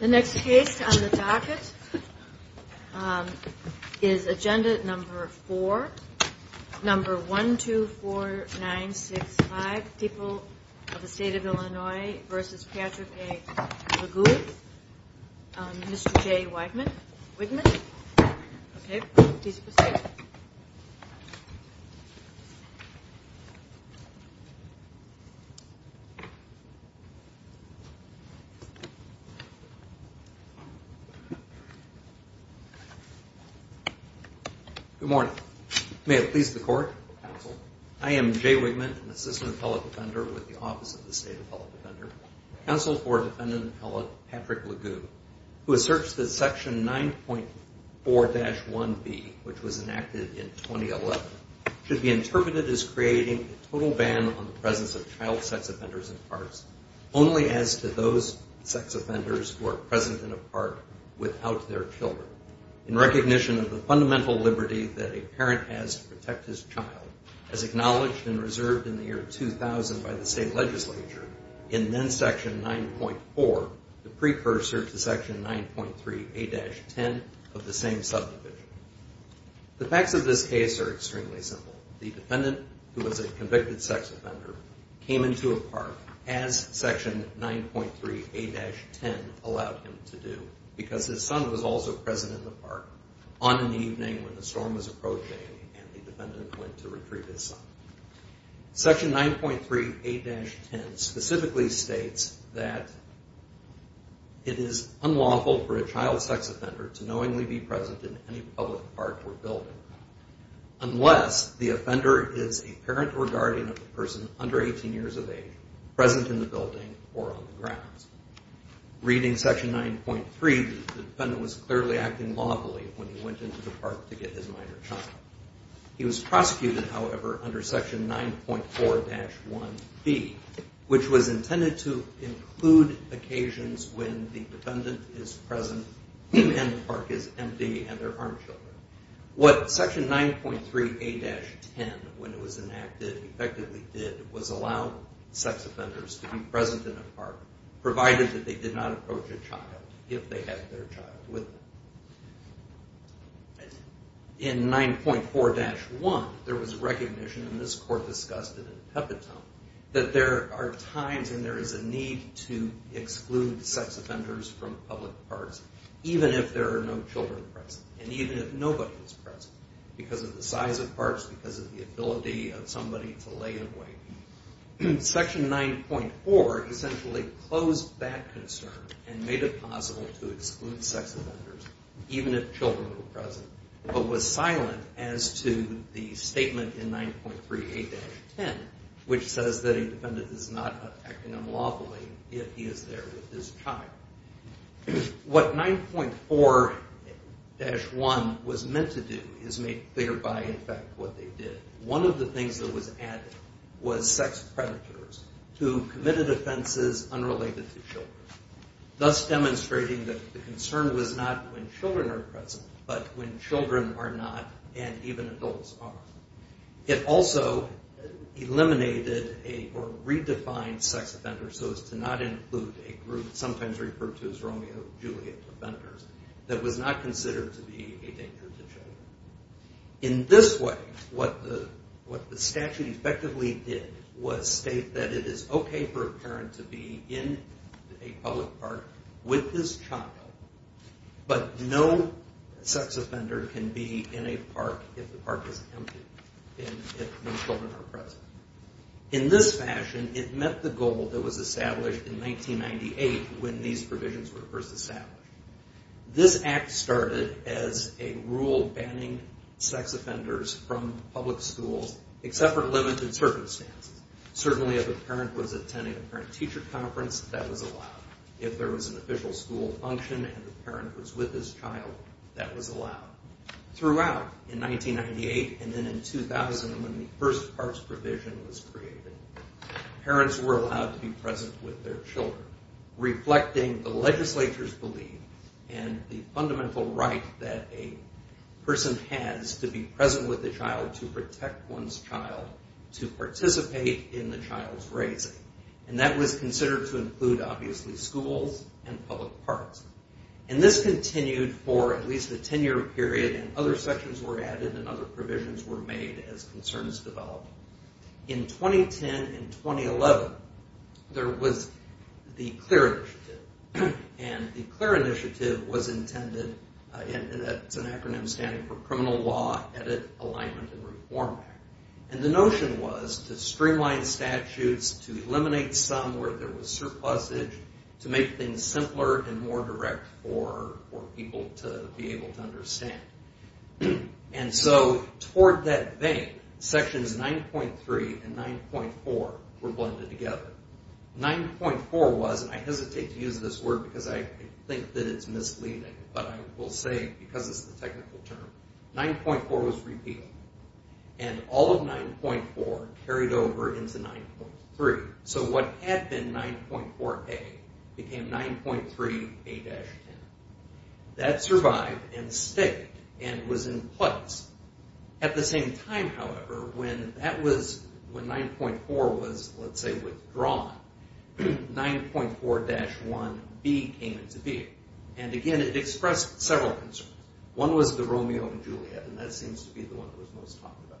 The next case on the docket is agenda number four, number 124965, People of the State of Illinois v. Patrick A. Legoo, Mr. J. Wigman. Good morning. May it please the court, counsel. I am J. Wigman, an assistant appellate defender with the Office of the State Appellate Defender. Counsel for defendant appellate Patrick Legoo, who asserts that Section 9.4-1B, which was enacted in 2011, should be interpreted as creating a total ban on the presence of child sex offenders in parks, only as to those sex offenders who are present in a park without their children, in recognition of the fundamental liberty that a parent has to protect his child, as acknowledged and reserved in the year 2000 by the state legislature in then Section 9.4, the precursor to Section 9.3A-10 of the same subdivision. The facts of this case are extremely simple. The defendant, who was a convicted sex offender, came into a park as Section 9.3A-10 allowed him to do, because his son was also present in the park on an evening when the storm was approaching and the defendant went to retrieve his son. Section 9.3A-10 specifically states that it is unlawful for a child sex offender to knowingly be present in any public park or building unless the offender is a parent or guardian of a person under 18 years of age present in the building or on the grounds. Reading Section 9.3, the defendant was clearly acting lawfully when he went into the park to get his minor child. He was prosecuted, however, under Section 9.4-1B, which was intended to include occasions when the defendant is present and the park is empty and there aren't children. What Section 9.3A-10, when it was enacted, effectively did was allow sex offenders to be present in a park, provided that they did not approach a child, if they had their child with them. In 9.4-1, there was recognition, and this Court discussed it in a pep talk, that there are times when there is a need to exclude sex offenders from public parks, even if there are no children present and even if nobody is present, because of the size of parks, because of the ability of somebody to lay a weight. Section 9.4 essentially closed that concern and made it possible to exclude sex offenders, even if children were present, but was silent as to the statement in 9.3A-10, which says that a defendant is not acting unlawfully if he is there with his child. What 9.4-1 was meant to do is make clear by effect what they did. One of the things that was added was sex predators who committed offenses unrelated to children, thus demonstrating that the concern was not when children are present, but when children are not and even adults are. It also eliminated or redefined sex offenders so as to not include a group sometimes referred to as Romeo-Juliet offenders that was not considered to be a danger to children. In this way, what the statute effectively did was state that it is okay for a parent to be in a public park with his child, but no sex offender can be in a park if the park is empty and if no children are present. In this fashion, it met the goal that was established in 1998 when these provisions were first established. This Act started as a rule banning sex offenders from public schools except for limited circumstances. Certainly if a parent was attending a parent-teacher conference, that was allowed. If there was an official school function and the parent was with his child, that was allowed. Throughout in 1998 and then in 2000 when the first parks provision was created, parents were allowed to be present with their children, reflecting the legislature's belief and the fundamental right that a person has to be present with a child to protect one's child, to participate in the child's raising. That was considered to include, obviously, schools and public parks. This continued for at least a 10-year period. Other sections were added and other provisions were made as concerns developed. In 2010 and 2011, there was the CLEAR initiative. The CLEAR initiative was intended, it's an acronym standing for Criminal Law, Edit, Alignment, and Reform Act. The notion was to streamline statutes, to eliminate some where there was surplusage, to make things simpler and more direct for people to be able to understand. Toward that vein, sections 9.3 and 9.4 were blended together. 9.4 was, and I hesitate to use this word because I think that it's misleading, but I will say because it's a technical term, 9.4 was repealed and all of 9.4 carried over into 9.3. So what had been 9.4A became 9.3A-10. That survived and stayed and was in place. At the same time, however, when that was, when 9.4 was, let's say, withdrawn, 9.4-1B came into being. And again, it expressed several concerns. One was the Romeo and Juliet, and that seems to be the one that was most talked about.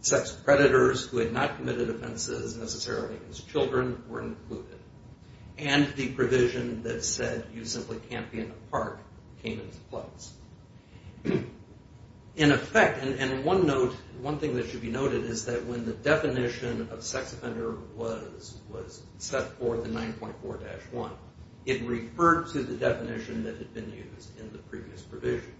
Sex predators who had not committed offenses necessarily as children were included. And the provision that said you simply can't be in a park came into place. In effect, and one note, one thing that should be noted is that when the definition of sex offender was set forth in 9.4-1, it referred to the definition that had been used in the previous provision.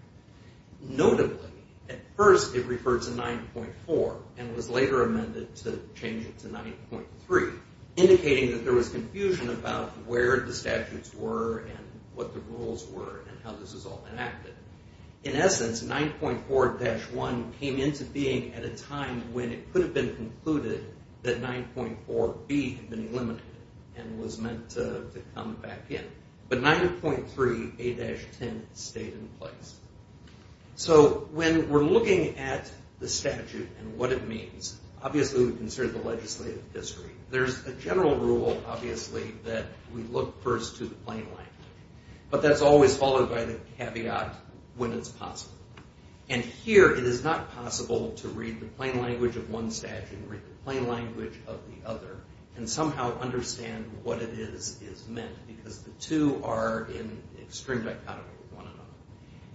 Notably, at first it referred to 9.4 and was later amended to change it to 9.3, indicating that there was confusion about where the statutes were and what the rules were and how this was all enacted. In essence, 9.4-1 came into being at a time when it could have been concluded that 9.4B had been eliminated and was meant to come back in. But 9.3A-10 stayed in place. So when we're looking at the statute and what it means, obviously we consider the legislative history. There's a general rule, obviously, that we look first to the plain language. But that's always followed by the caveat, when it's possible. And here it is not possible to read the plain language of one statute and read the plain language of the other and somehow understand what it is is meant, because the two are in extreme dichotomy with one another.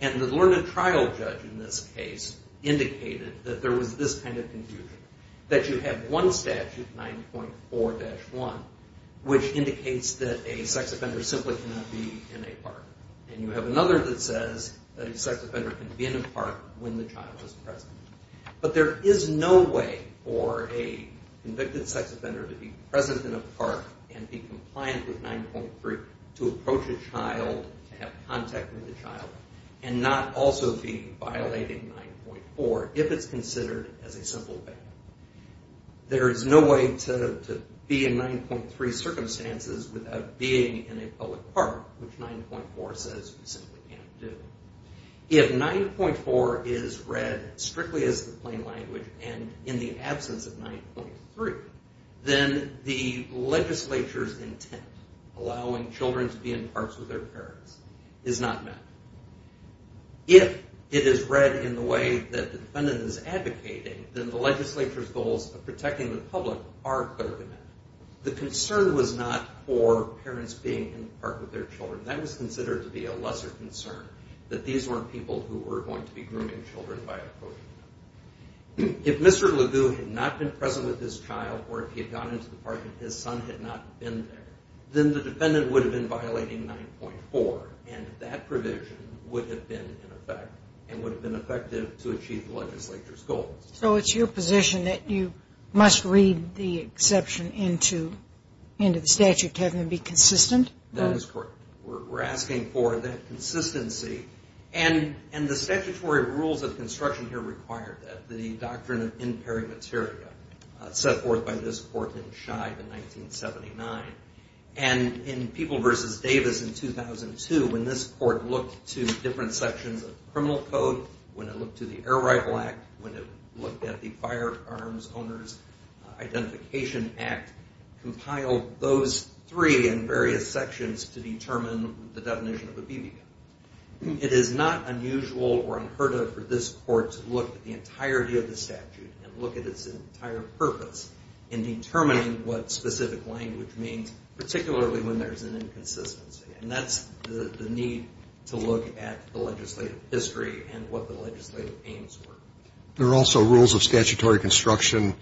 And the learned trial judge in this case indicated that there was this kind of confusion, that you have one statute, 9.4-1, which indicates that a sex offender simply cannot be in a park. And you have another that says that a sex offender can be in a park when the child is present. But there is no way for a convicted sex offender to be present in a park and be compliant with 9.3 to approach a child, to have contact with a child, and not also be violating 9.4 if it's considered as a simple ban. There is no way to be in 9.3 circumstances without being in a public park, which 9.4 says you simply can't do. If 9.4 is read strictly as the plain language and in the absence of 9.3, then the legislature's intent, allowing children to be in parks with their parents, is not met. If it is read in the way that the defendant is advocating, then the legislature's goals of protecting the public are clearly met. The concern was not for parents being in the park with their children. That was considered to be a lesser concern, that these weren't people who were going to be grooming children by approaching them. If Mr. LeGue had not been present with his child or if he had gone into the park and his son had not been there, then the defendant would have been violating 9.4, and that provision would have been in effect and would have been effective to achieve the legislature's goals. So it's your position that you must read the exception into the statute to have them be consistent? That is correct. We're asking for that consistency. And the statutory rules of construction here require that, the doctrine of in peri materia set forth by this court in Scheib in 1979. And in People v. Davis in 2002, when this court looked to different sections of criminal code, when it looked to the Air Rifle Act, when it looked at the Firearms Owners Identification Act, compiled those three in various sections to determine the definition of a BB gun. It is not unusual or unheard of for this court to look at the entirety of the statute and look at its entire purpose in determining what specific language means, particularly when there's an inconsistency. And that's the need to look at the legislative history and what the legislative aims were. There are also rules of statutory construction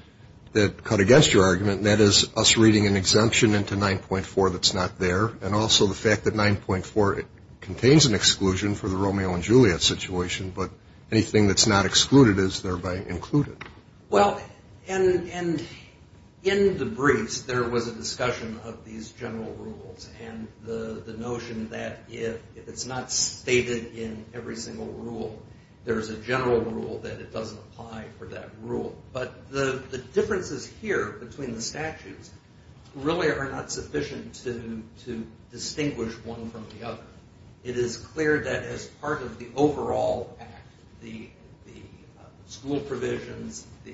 that cut against your argument, and that is us reading an exemption into 9.4 that's not there, and also the fact that 9.4 contains an exclusion for the Romeo and Juliet situation, but anything that's not excluded is thereby included. Well, and in the briefs, there was a discussion of these general rules and the notion that if it's not stated in every single rule, there's a general rule that it doesn't apply for that rule. But the differences here between the statutes really are not sufficient to distinguish one from the other. It is clear that as part of the overall act, the school provisions, the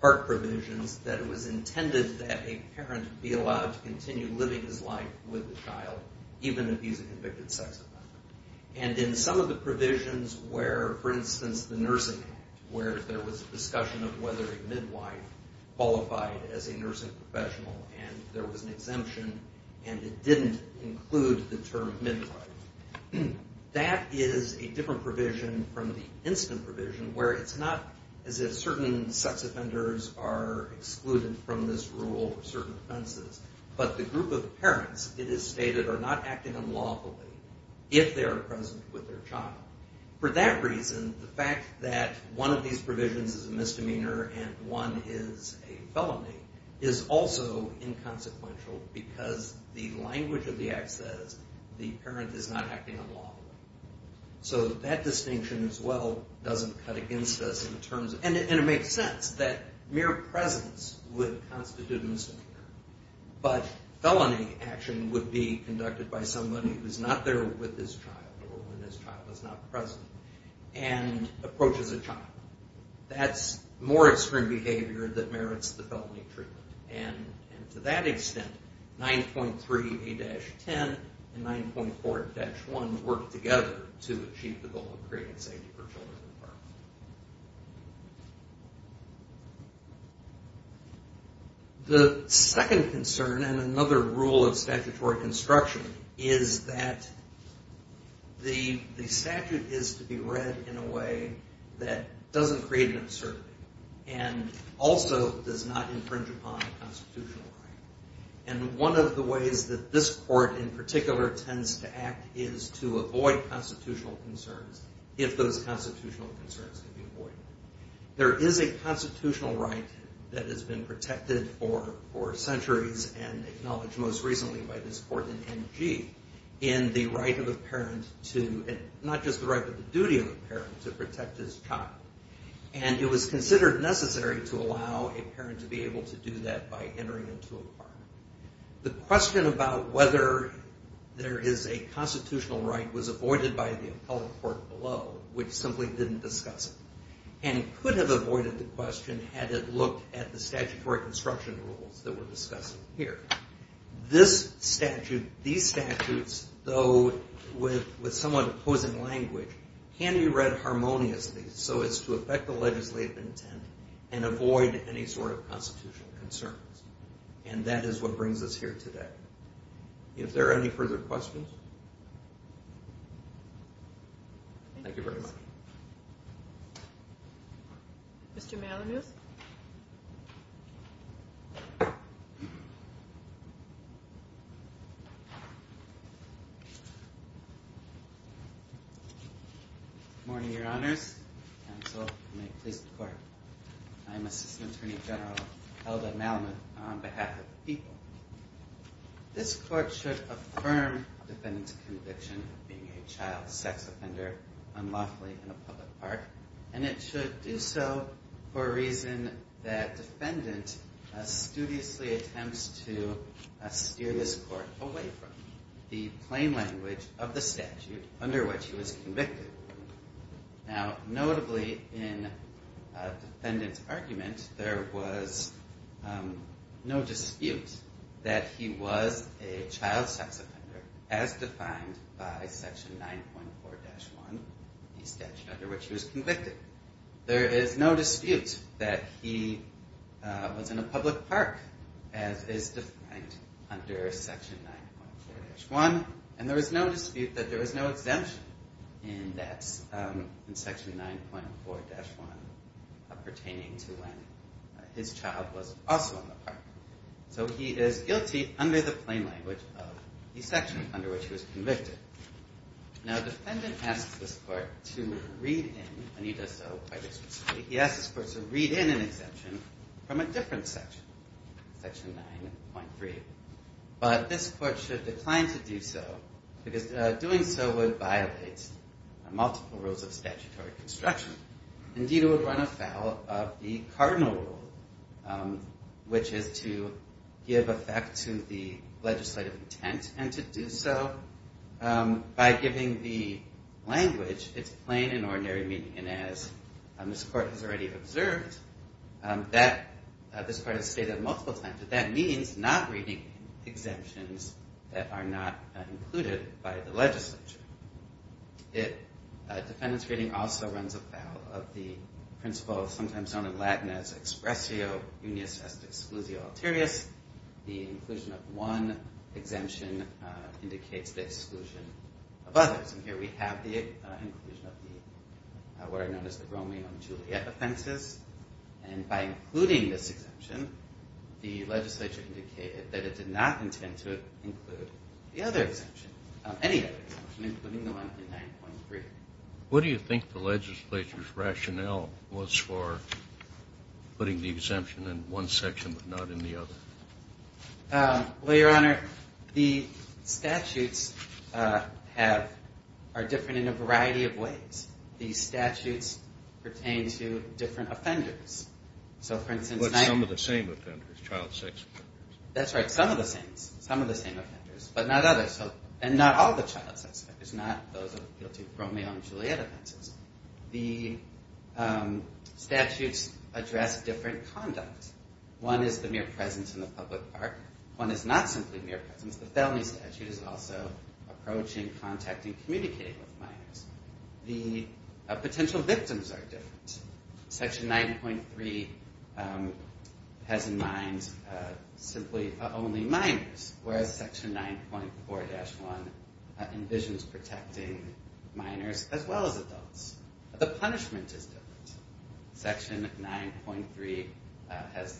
park provisions, that it was intended that a parent be allowed to continue living his life with the child, even if he's a convicted sex offender. And in some of the provisions where, for instance, the Nursing Act, where there was a discussion of whether a midwife qualified as a nursing professional, and there was an exemption, and it didn't include the term midwife, that is a different provision from the instant provision where it's not as if certain sex offenders are excluded from this rule for certain offenses, but the group of parents, it is stated, are not acting unlawfully. If they are present with their child. For that reason, the fact that one of these provisions is a misdemeanor and one is a felony is also inconsequential because the language of the act says the parent is not acting unlawfully. So that distinction as well doesn't cut against us in terms of, and it makes sense that mere presence would constitute a misdemeanor, but felony action would be conducted by somebody who's not there with his child or when his child is not present and approaches a child. That's more extreme behavior that merits the felony treatment. And to that extent, 9.3A-10 and 9.4-1 work together to achieve the goal of creating safety for children. The second concern and another rule of statutory construction is that the statute is to be read in a way that doesn't create an uncertainty and also does not infringe upon constitutional right. And one of the ways that this court in particular tends to act is to avoid constitutional concerns if those constitutional concerns can be avoided. There is a constitutional right that has been protected for centuries and acknowledged most recently by this court in N.G. in the right of the parent to, not just the right, but the duty of the parent to protect his child. And it was considered necessary to allow a parent to be able to do that by entering into a partner. The question about whether there is a constitutional right was avoided by the appellate court below, which simply didn't discuss it. And could have avoided the question had it looked at the statutory construction rules that we're discussing here. This statute, these statutes, though with somewhat opposing language, can be read harmoniously so as to affect the legislative intent and avoid any sort of constitutional concerns. And that is what brings us here today. If there are any further questions? Thank you very much. Mr. Malamuth? Good morning, Your Honors. Counsel, and may it please the Court. I am Assistant Attorney General Hilda Malamuth on behalf of the people. This court should affirm defendant's conviction of being a child sex offender unlawfully in a public park, and it should do so for a reason that defendant studiously attempts to steer this court away from, the plain language of the statute under which he was convicted. Now, notably in defendant's argument, there was no dispute that he was a child sex offender as defined by Section 9.4-1, the statute under which he was convicted. There is no dispute that he was in a public park as is defined under Section 9.4-1, and there is no dispute that there was no exemption in that, in Section 9.4-1, pertaining to when his child was also in the park. So he is guilty under the plain language of the section under which he was convicted. Now, defendant asks this court to read in, and he does so quite explicitly, he asks this court to read in an exemption from a different section, Section 9.3. But this court should decline to do so, because doing so would violate multiple rules of statutory construction. Indeed, it would run afoul of the cardinal rule, which is to give effect to the legislative intent, and to do so by giving the language its plain and ordinary meaning. And as this court has already observed, this court has stated multiple times that that means not reading exemptions that are not included by the legislature. Defendant's reading also runs afoul of the principle sometimes known in Latin as expressio unius est exclusio alterius, the inclusion of one exemption indicates the exclusion of others. And here we have the inclusion of what are known as the roaming on Juliet offenses. And by including this exemption, the legislature indicated that it did not intend to include the other exemption, any other exemption, including the one in 9.3. What do you think the legislature's rationale was for putting the exemption in one section but not in the other? Well, Your Honor, the statutes are different in a variety of ways. The statutes pertain to different offenders. But some of the same offenders, child sex offenders. That's right, some of the same offenders, but not all the child sex offenders, not those guilty of roaming on Juliet offenses. The statutes address different conduct. One is the mere presence in the public park. One is not simply mere presence. The felony statute is also approaching, contacting, communicating with minors. The potential victims are different. Section 9.3 has in mind simply only minors, whereas Section 9.4-1 envisions protecting minors as well as adults. The punishment is different. Section 9.3 has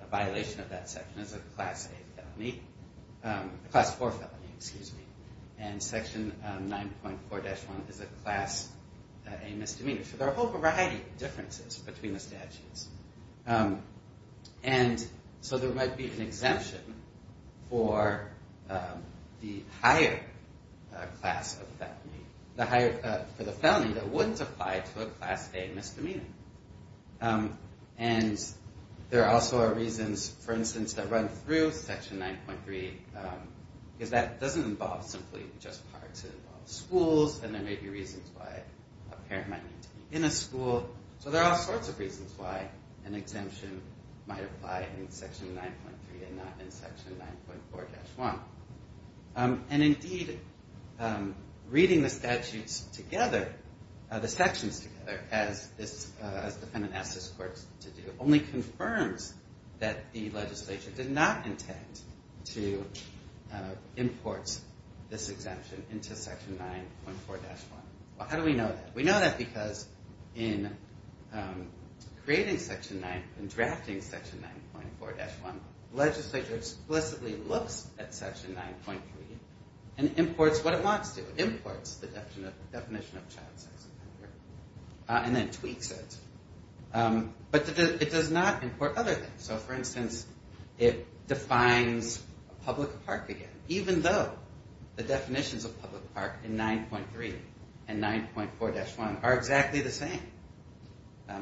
a violation of that section as a Class A felony, Class 4 felony, excuse me. And Section 9.4-1 is a Class A misdemeanor. There are a whole variety of differences between the statutes. And so there might be an exemption for the higher class of felony, for the felony that wouldn't apply to a Class A misdemeanor. And there also are reasons, for instance, that run through Section 9.3, because that doesn't involve simply just parks. It involves schools, and there may be reasons why a parent might need to be in a school. So there are all sorts of reasons why an exemption might apply in Section 9.3 and not in Section 9.4-1. And indeed, reading the statutes together, the sections together, as this defendant asked this court to do, only confirms that the legislature did not intend to import this exemption into Section 9.4-1. Well, how do we know that? We know that because in creating Section 9, in drafting Section 9.4-1, legislature explicitly looks at Section 9.3 and imports what it wants to, imports the definition of child sex offender, and then tweaks it. But it does not import other things. So, for instance, it defines a public park again, even though the definitions of public park in 9.3 and 9.4-1 are exactly the same.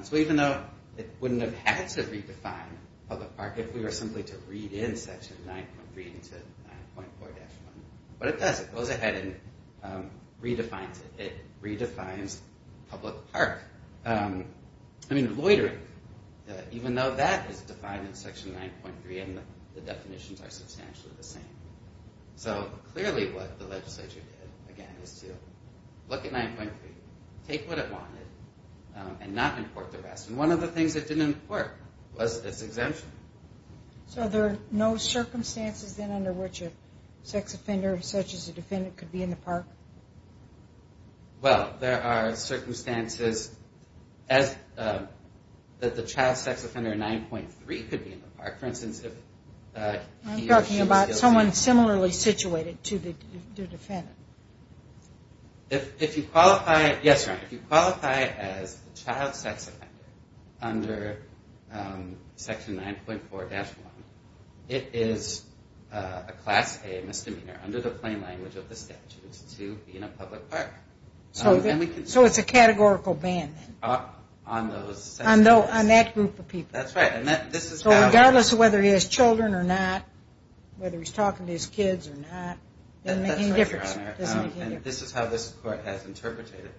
So even though it wouldn't have had to redefine public park if we were simply to read in Section 9.3 into 9.4-1, but it does. It goes ahead and redefines it. It redefines public park. I mean, loitering, even though that is defined in Section 9.3 and the definitions are substantially the same. So clearly what the legislature did, again, is to look at 9.3, take what it wanted, and not import the rest. And one of the things that didn't work was this exemption. So there are no circumstances then under which a sex offender such as a defendant could be in the park? Well, there are circumstances that the child sex offender in 9.3 could be in the park. For instance, if he or she was ill- I'm talking about someone similarly situated to the defendant. Yes, Your Honor. If you qualify as a child sex offender under Section 9.4-1, it is a Class A misdemeanor under the plain language of the statutes to be in a public park. So it's a categorical ban then? On those sex offenders. On that group of people. That's right. So regardless of whether he has children or not, whether he's talking to his kids or not, it doesn't make any difference. That's right, Your Honor. And this is how this Court has interpreted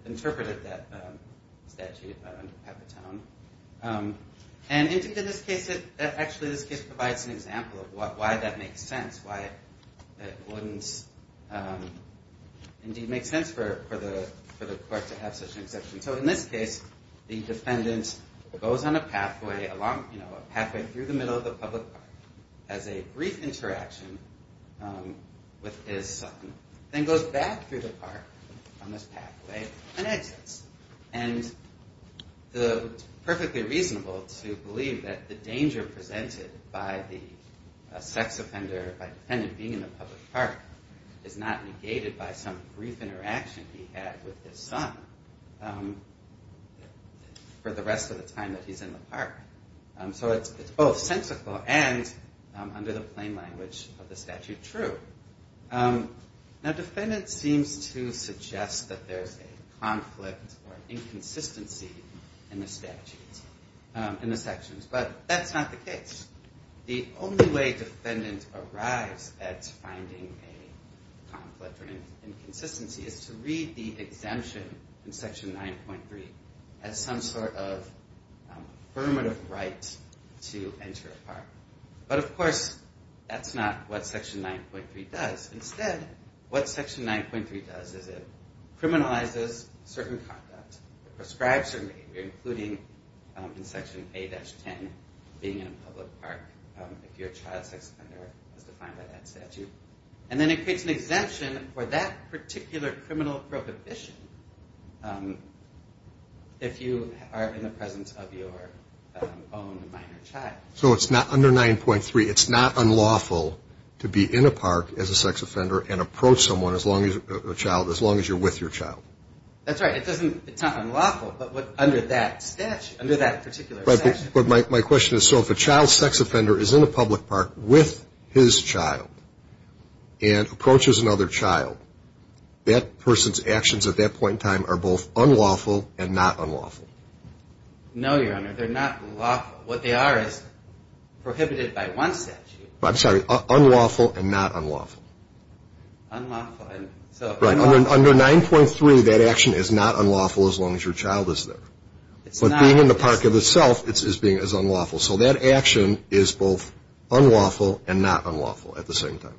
that statute under Capitone. And actually this case provides an example of why that makes sense, why it wouldn't indeed make sense for the Court to have such an exemption. So in this case, the defendant goes on a pathway through the middle of the public park, has a brief interaction with his son, then goes back through the park on this pathway and exits. And it's perfectly reasonable to believe that the danger presented by the sex offender, by the defendant being in the public park, is not negated by some brief interaction he had with his son for the rest of the time that he's in the park. So it's both sensical and, under the plain language of the statute, true. Now, defendants seem to suggest that there's a conflict or inconsistency in the statute, in the sections. But that's not the case. The only way defendants arise at finding a conflict or inconsistency is to read the exemption in Section 9.3 as some sort of affirmative right to enter a park. But, of course, that's not what Section 9.3 does. Instead, what Section 9.3 does is it criminalizes certain conduct, prescribes certain behavior, including in Section 8-10, being in a public park if you're a child sex offender as defined by that statute. And then it creates an exemption for that particular criminal prohibition if you are in the presence of your own minor child. So it's not under 9.3. It's not unlawful to be in a park as a sex offender and approach someone, a child, as long as you're with your child. That's right. It's not unlawful, but under that particular statute. But my question is, so if a child sex offender is in a public park with his child and approaches another child, that person's actions at that point in time are both unlawful and not unlawful. No, Your Honor. They're not unlawful. What they are is prohibited by one statute. I'm sorry. Unlawful and not unlawful. Unlawful. Right. Under 9.3, that action is not unlawful as long as your child is there. But being in the park of itself is being as unlawful. So that action is both unlawful and not unlawful at the same time.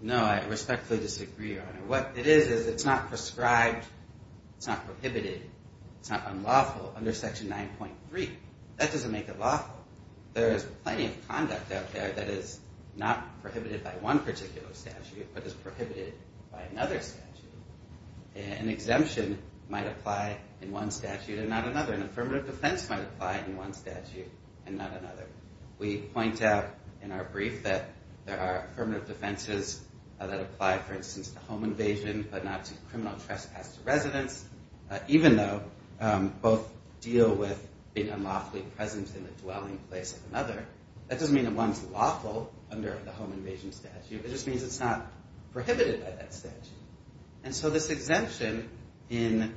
No, I respectfully disagree, Your Honor. What it is is it's not prescribed, it's not prohibited, it's not unlawful under Section 9.3. That doesn't make it lawful. There is plenty of conduct out there that is not prohibited by one particular statute but is prohibited by another statute. An exemption might apply in one statute and not another. An affirmative defense might apply in one statute and not another. We point out in our brief that there are affirmative defenses that apply, for instance, to home invasion but not to criminal trespass to residence, even though both deal with being unlawfully present in the dwelling place of another. That doesn't mean that one is lawful under the home invasion statute. It just means it's not prohibited by that statute. And so this exemption in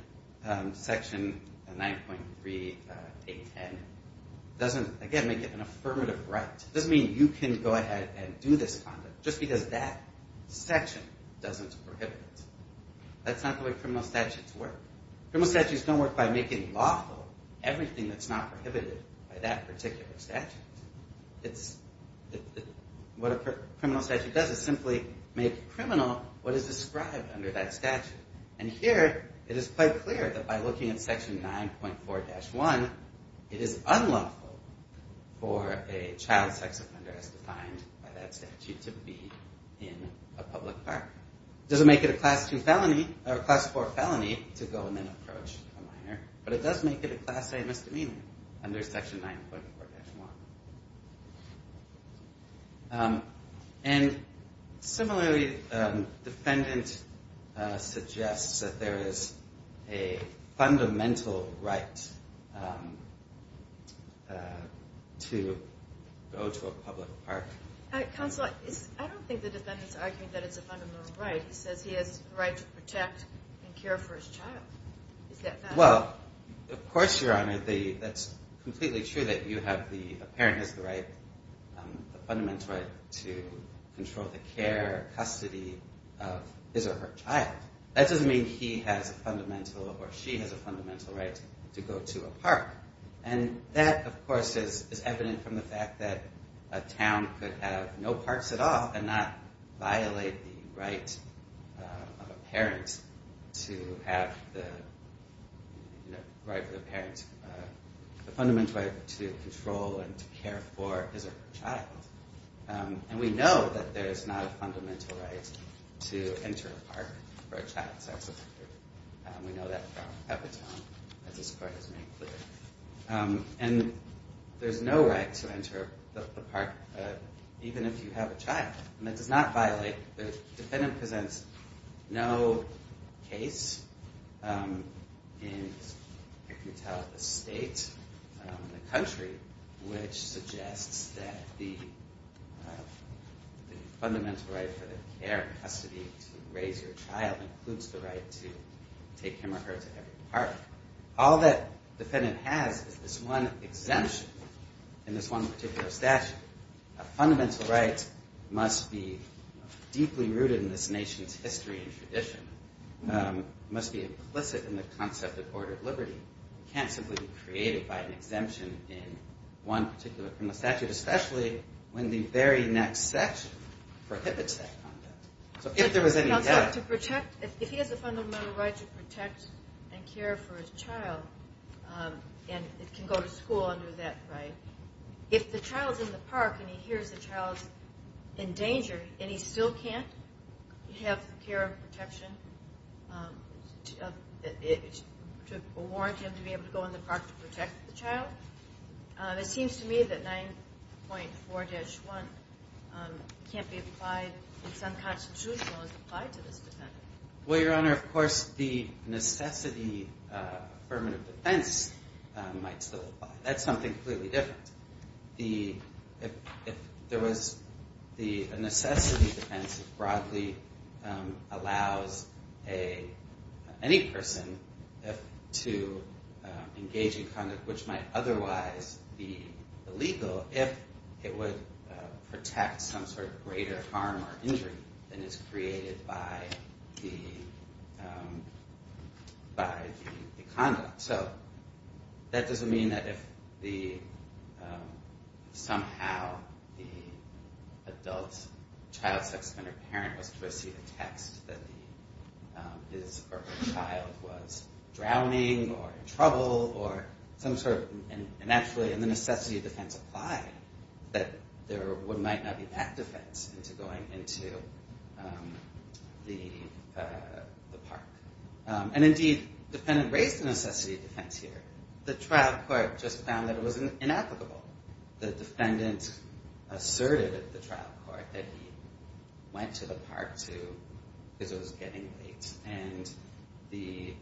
Section 9.3.810 doesn't, again, make it an affirmative right. It doesn't mean you can go ahead and do this conduct just because that section doesn't prohibit it. That's not the way criminal statutes work. Criminal statutes don't work by making lawful everything that's not prohibited by that particular statute. What a criminal statute does is simply make criminal what is described under that statute. And here it is quite clear that by looking at Section 9.4-1, it is unlawful for a child sex offender as defined by that statute to be in a public park. It doesn't make it a Class 2 felony or a Class 4 felony to go and then approach a minor, but it does make it a Class A misdemeanor under Section 9.4-1. And similarly, defendant suggests that there is a fundamental right to go to a public park. Counsel, I don't think the defendant is arguing that it's a fundamental right. He says he has the right to protect and care for his child. Well, of course, Your Honor, that's completely true that a parent has the fundamental right to control the care, custody of his or her child. That doesn't mean he has a fundamental or she has a fundamental right to go to a park. And that, of course, is evident from the fact that a town could have no parks at all and not violate the right of a parent to have the fundamental right to control and to care for his or her child. And we know that there is not a fundamental right to enter a park for a child sex offender. We know that from Peppertone, as this Court has made clear. And there's no right to enter a park even if you have a child. And that does not violate, the defendant presents no case in, as you can tell, the state, the country, which suggests that the fundamental right for the care and custody to raise your child includes the right to take him or her to every park. All that the defendant has is this one exemption in this one particular statute. A fundamental right must be deeply rooted in this nation's history and tradition. It must be implicit in the concept of order of liberty. It can't simply be created by an exemption in one particular criminal statute, especially when the very next section prohibits that conduct. So if there was any doubt... If he has a fundamental right to protect and care for his child and can go to school under that right, if the child's in the park and he hears the child's in danger and he still can't have the care and protection, to warrant him to be able to go in the park to protect the child, it seems to me that 9.4-1 can't be applied in some constitutional as applied to this defendant. Well, Your Honor, of course the necessity affirmative defense might still apply. That's something clearly different. The necessity defense broadly allows any person to engage in conduct which might otherwise be illegal if it would protect some sort of greater harm or injury than is created by the conduct. So that doesn't mean that if somehow the adult, child, sex offender parent was to receive a text that his or her child was drowning or in trouble or some sort of... And actually the necessity of defense applied, that there might not be that defense into going into the park. And indeed the defendant raised the necessity of defense here. The trial court just found that it was inapplicable. The defendant asserted at the trial court that he went to the park because it was getting late and he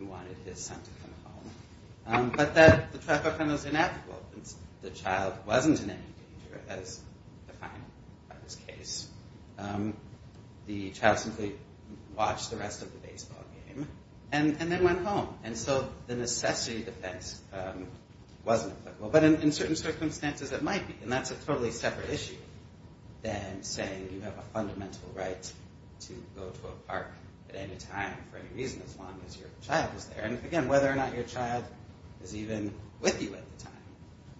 wanted his son to come home. But the trial court found that it was inapplicable. The child wasn't in any danger as defined by this case. The child simply watched the rest of the baseball game and then went home. And so the necessity of defense wasn't applicable. But in certain circumstances it might be. And that's a totally separate issue than saying you have a fundamental right to go to a park at any time for any reason as long as your child is there. And again, whether or not your child is even with you at the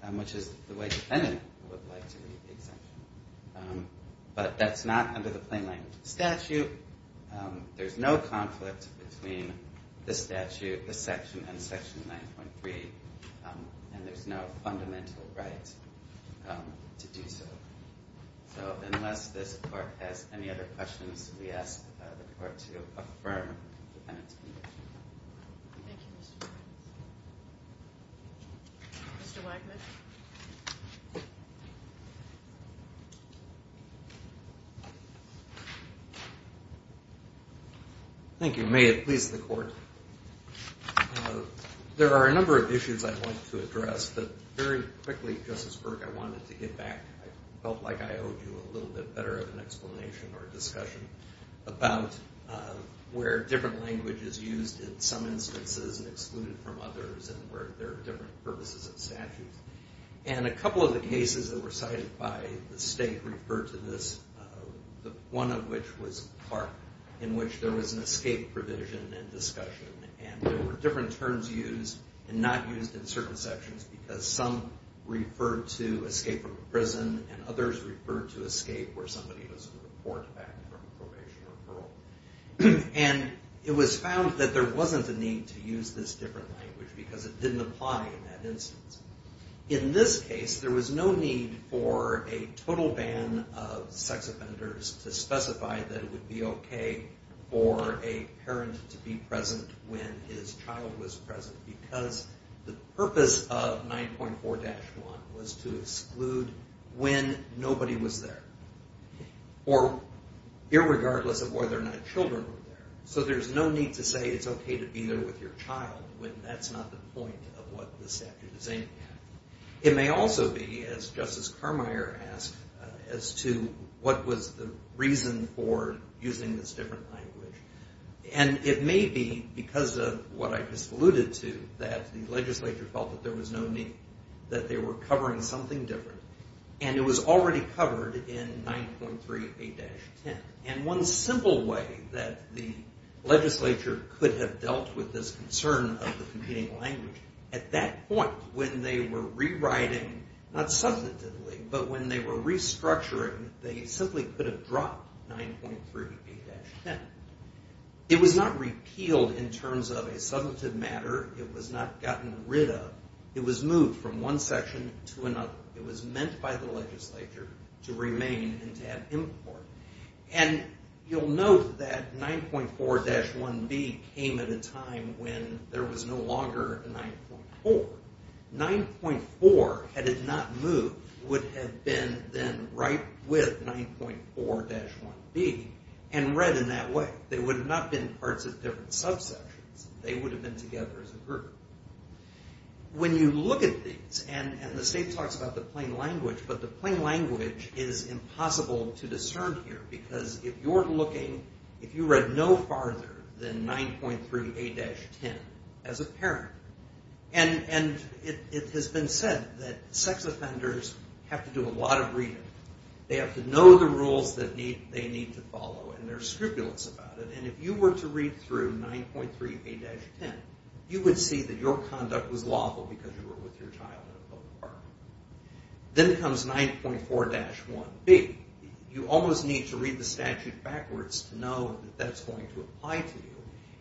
time, which is the way the defendant would like to read the exemption. But that's not under the plain language of the statute. There's no conflict between the statute, the section, and Section 9.3. And there's no fundamental right to do so. So unless this court has any other questions, we ask the court to affirm the defendant's condition. Thank you, Mr. Briggs. Mr. Wagner. Thank you. May it please the court. There are a number of issues I'd like to address. But very quickly, Justice Burke, I wanted to get back. I felt like I owed you a little bit better of an explanation or discussion about where different language is used in some instances and excluded from others and where there are different purposes of statutes. And a couple of the cases that were cited by the state referred to this, one of which was Clark, in which there was an escape provision in discussion. And there were different terms used and not used in certain sections because some referred to escape from a prison and others referred to escape where somebody was a report back from a probation referral. And it was found that there wasn't a need to use this different language because it didn't apply in that instance. In this case, there was no need for a total ban of sex offenders to specify that it would be okay for a parent to be present when his child was present because the purpose of 9.4-1 was to exclude when nobody was there or irregardless of whether or not children were there. So there's no need to say it's okay to be there with your child when that's not the point of what the statute is aiming at. It may also be, as Justice Carmeier asked, as to what was the reason for using this different language. And it may be because of what I just alluded to, that the legislature felt that there was no need, that they were covering something different, and it was already covered in 9.38-10. And one simple way that the legislature could have dealt with this concern of the competing language, at that point when they were rewriting, not substantively, but when they were restructuring, they simply could have dropped 9.38-10. It was not repealed in terms of a substantive matter. It was not gotten rid of. It was moved from one section to another. It was meant by the legislature to remain and to have import. And you'll note that 9.4-1B came at a time when there was no longer a 9.4. 9.4, had it not moved, would have been then right with 9.4-1B and read in that way. They would have not been parts of different subsections. They would have been together as a group. When you look at these, and the state talks about the plain language, but the plain language is impossible to discern here, because if you're looking, if you read no farther than 9.38-10 as a parent, and it has been said that sex offenders have to do a lot of reading. They have to know the rules that they need to follow, and there's scrupulous about it. And if you were to read through 9.38-10, you would see that your conduct was lawful because you were with your child in a public park. Then comes 9.4-1B. You almost need to read the statute backwards to know that that's going to apply to you.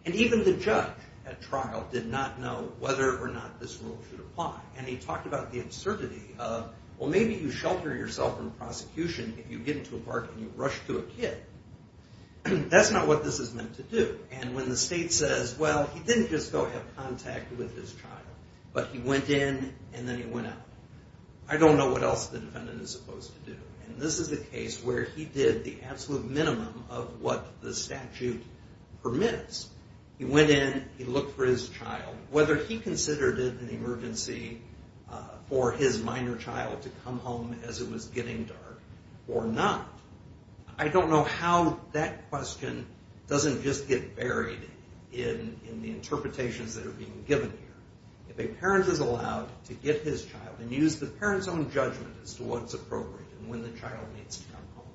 And even the judge at trial did not know whether or not this rule should apply. And he talked about the absurdity of, well, maybe you shelter yourself in prosecution if you get into a park and you rush to a kid. That's not what this is meant to do. And when the state says, well, he didn't just go have contact with his child, but he went in and then he went out, I don't know what else the defendant is supposed to do. And this is the case where he did the absolute minimum of what the statute permits. He went in, he looked for his child, whether he considered it an emergency for his minor child to come home as it was getting dark or not. I don't know how that question doesn't just get buried in the interpretations that are being given here. If a parent is allowed to get his child and use the parent's own judgment as to what's appropriate and when the child needs to come home,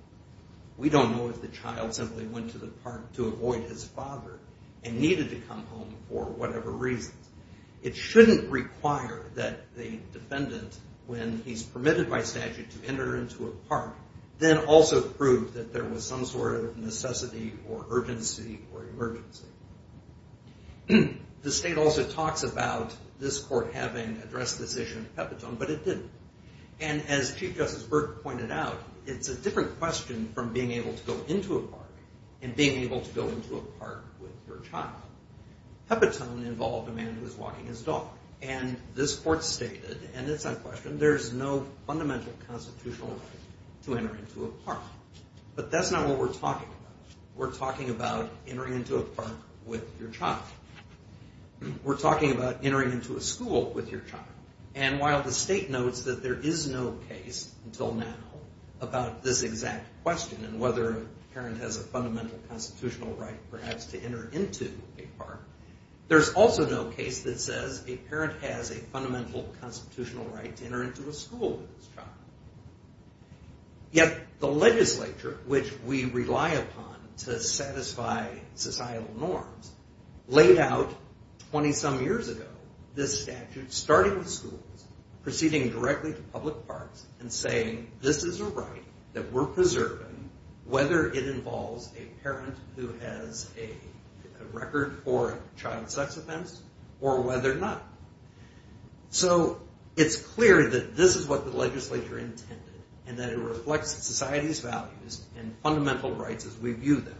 we don't know if the child simply went to the park to avoid his father and needed to come home for whatever reasons. It shouldn't require that the defendant, when he's permitted by statute to enter into a park, then also prove that there was some sort of necessity or urgency or emergency. The state also talks about this court having addressed this issue in Pepitone, but it didn't. And as Chief Justice Burke pointed out, it's a different question from being able to go into a park and being able to go into a park with your child. Pepitone involved a man who was walking his dog, and this court stated, and it's unquestioned, there's no fundamental constitutional right to enter into a park. But that's not what we're talking about. We're talking about entering into a park with your child. We're talking about entering into a school with your child. And while the state notes that there is no case until now about this exact question and whether a parent has a fundamental constitutional right perhaps to enter into a park, there's also no case that says a parent has a fundamental constitutional right to enter into a school with his child. Yet the legislature, which we rely upon to satisfy societal norms, laid out 20-some years ago this statute, starting with schools, proceeding directly to public parks, and saying this is a right that we're preserving, whether it involves a parent who has a record for a child sex offense or whether not. So it's clear that this is what the legislature intended and that it reflects society's values and fundamental rights as we view them.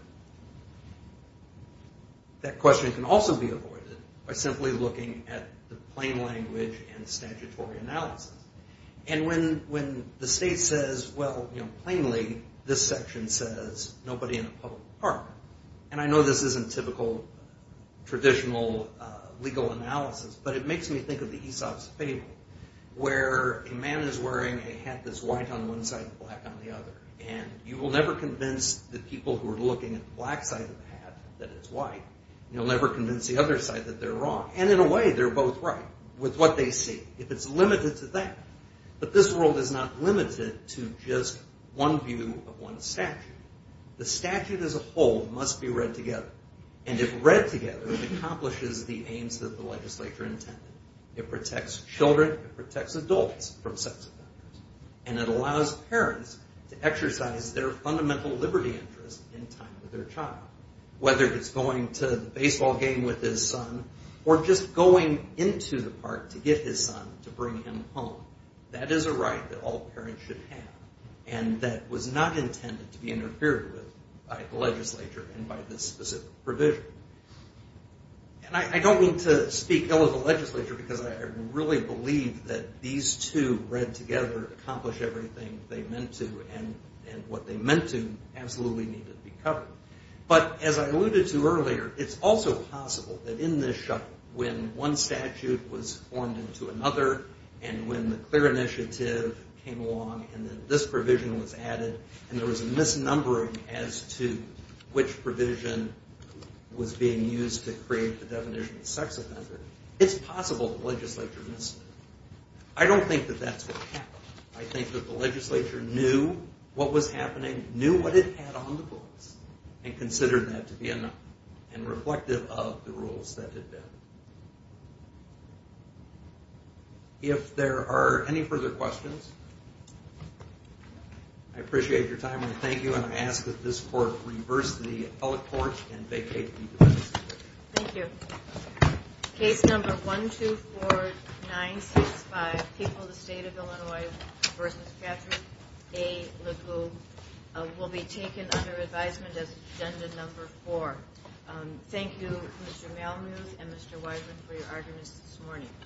That question can also be avoided by simply looking at the plain language and statutory analysis. And when the state says, well, plainly, this section says nobody in a public park. And I know this isn't typical traditional legal analysis, but it makes me think of the Aesop's Fable, where a man is wearing a hat that's white on one side and black on the other. And you will never convince the people who are looking at the black side of the hat that it's white. You'll never convince the other side that they're wrong. And in a way, they're both right with what they see. If it's limited to that. But this world is not limited to just one view of one statute. The statute as a whole must be read together. And if read together, it accomplishes the aims that the legislature intended. It protects children. It protects adults from sex offenders. And it allows parents to exercise their fundamental liberty interest in time with their child, whether it's going to the baseball game with his son or just going into the park to get his son to bring him home. That is a right that all parents should have. And that was not intended to be interfered with by the legislature and by this specific provision. And I don't mean to speak ill of the legislature, because I really believe that these two read together accomplish everything they meant to. And what they meant to absolutely needed to be covered. But as I alluded to earlier, it's also possible that in this shuffle, when one statute was formed into another, and when the CLEAR initiative came along, and then this provision was added, and there was a misnumbering as to which provision was being used to create the definition of sex offender, it's possible the legislature missed it. I don't think that that's what happened. I think that the legislature knew what was happening, knew what it had on the books, and considered that to be enough and reflective of the rules that had been. If there are any further questions, I appreciate your time and I thank you. And I ask that this court reverse the appellate court and vacate the defense. Thank you. Case number 124965, People of the State of Illinois v. Catherine A. LeCoultre, will be taken under advisement as agenda number four. Thank you, Mr. Malmuth and Mr. Weisman, for your arguments this morning.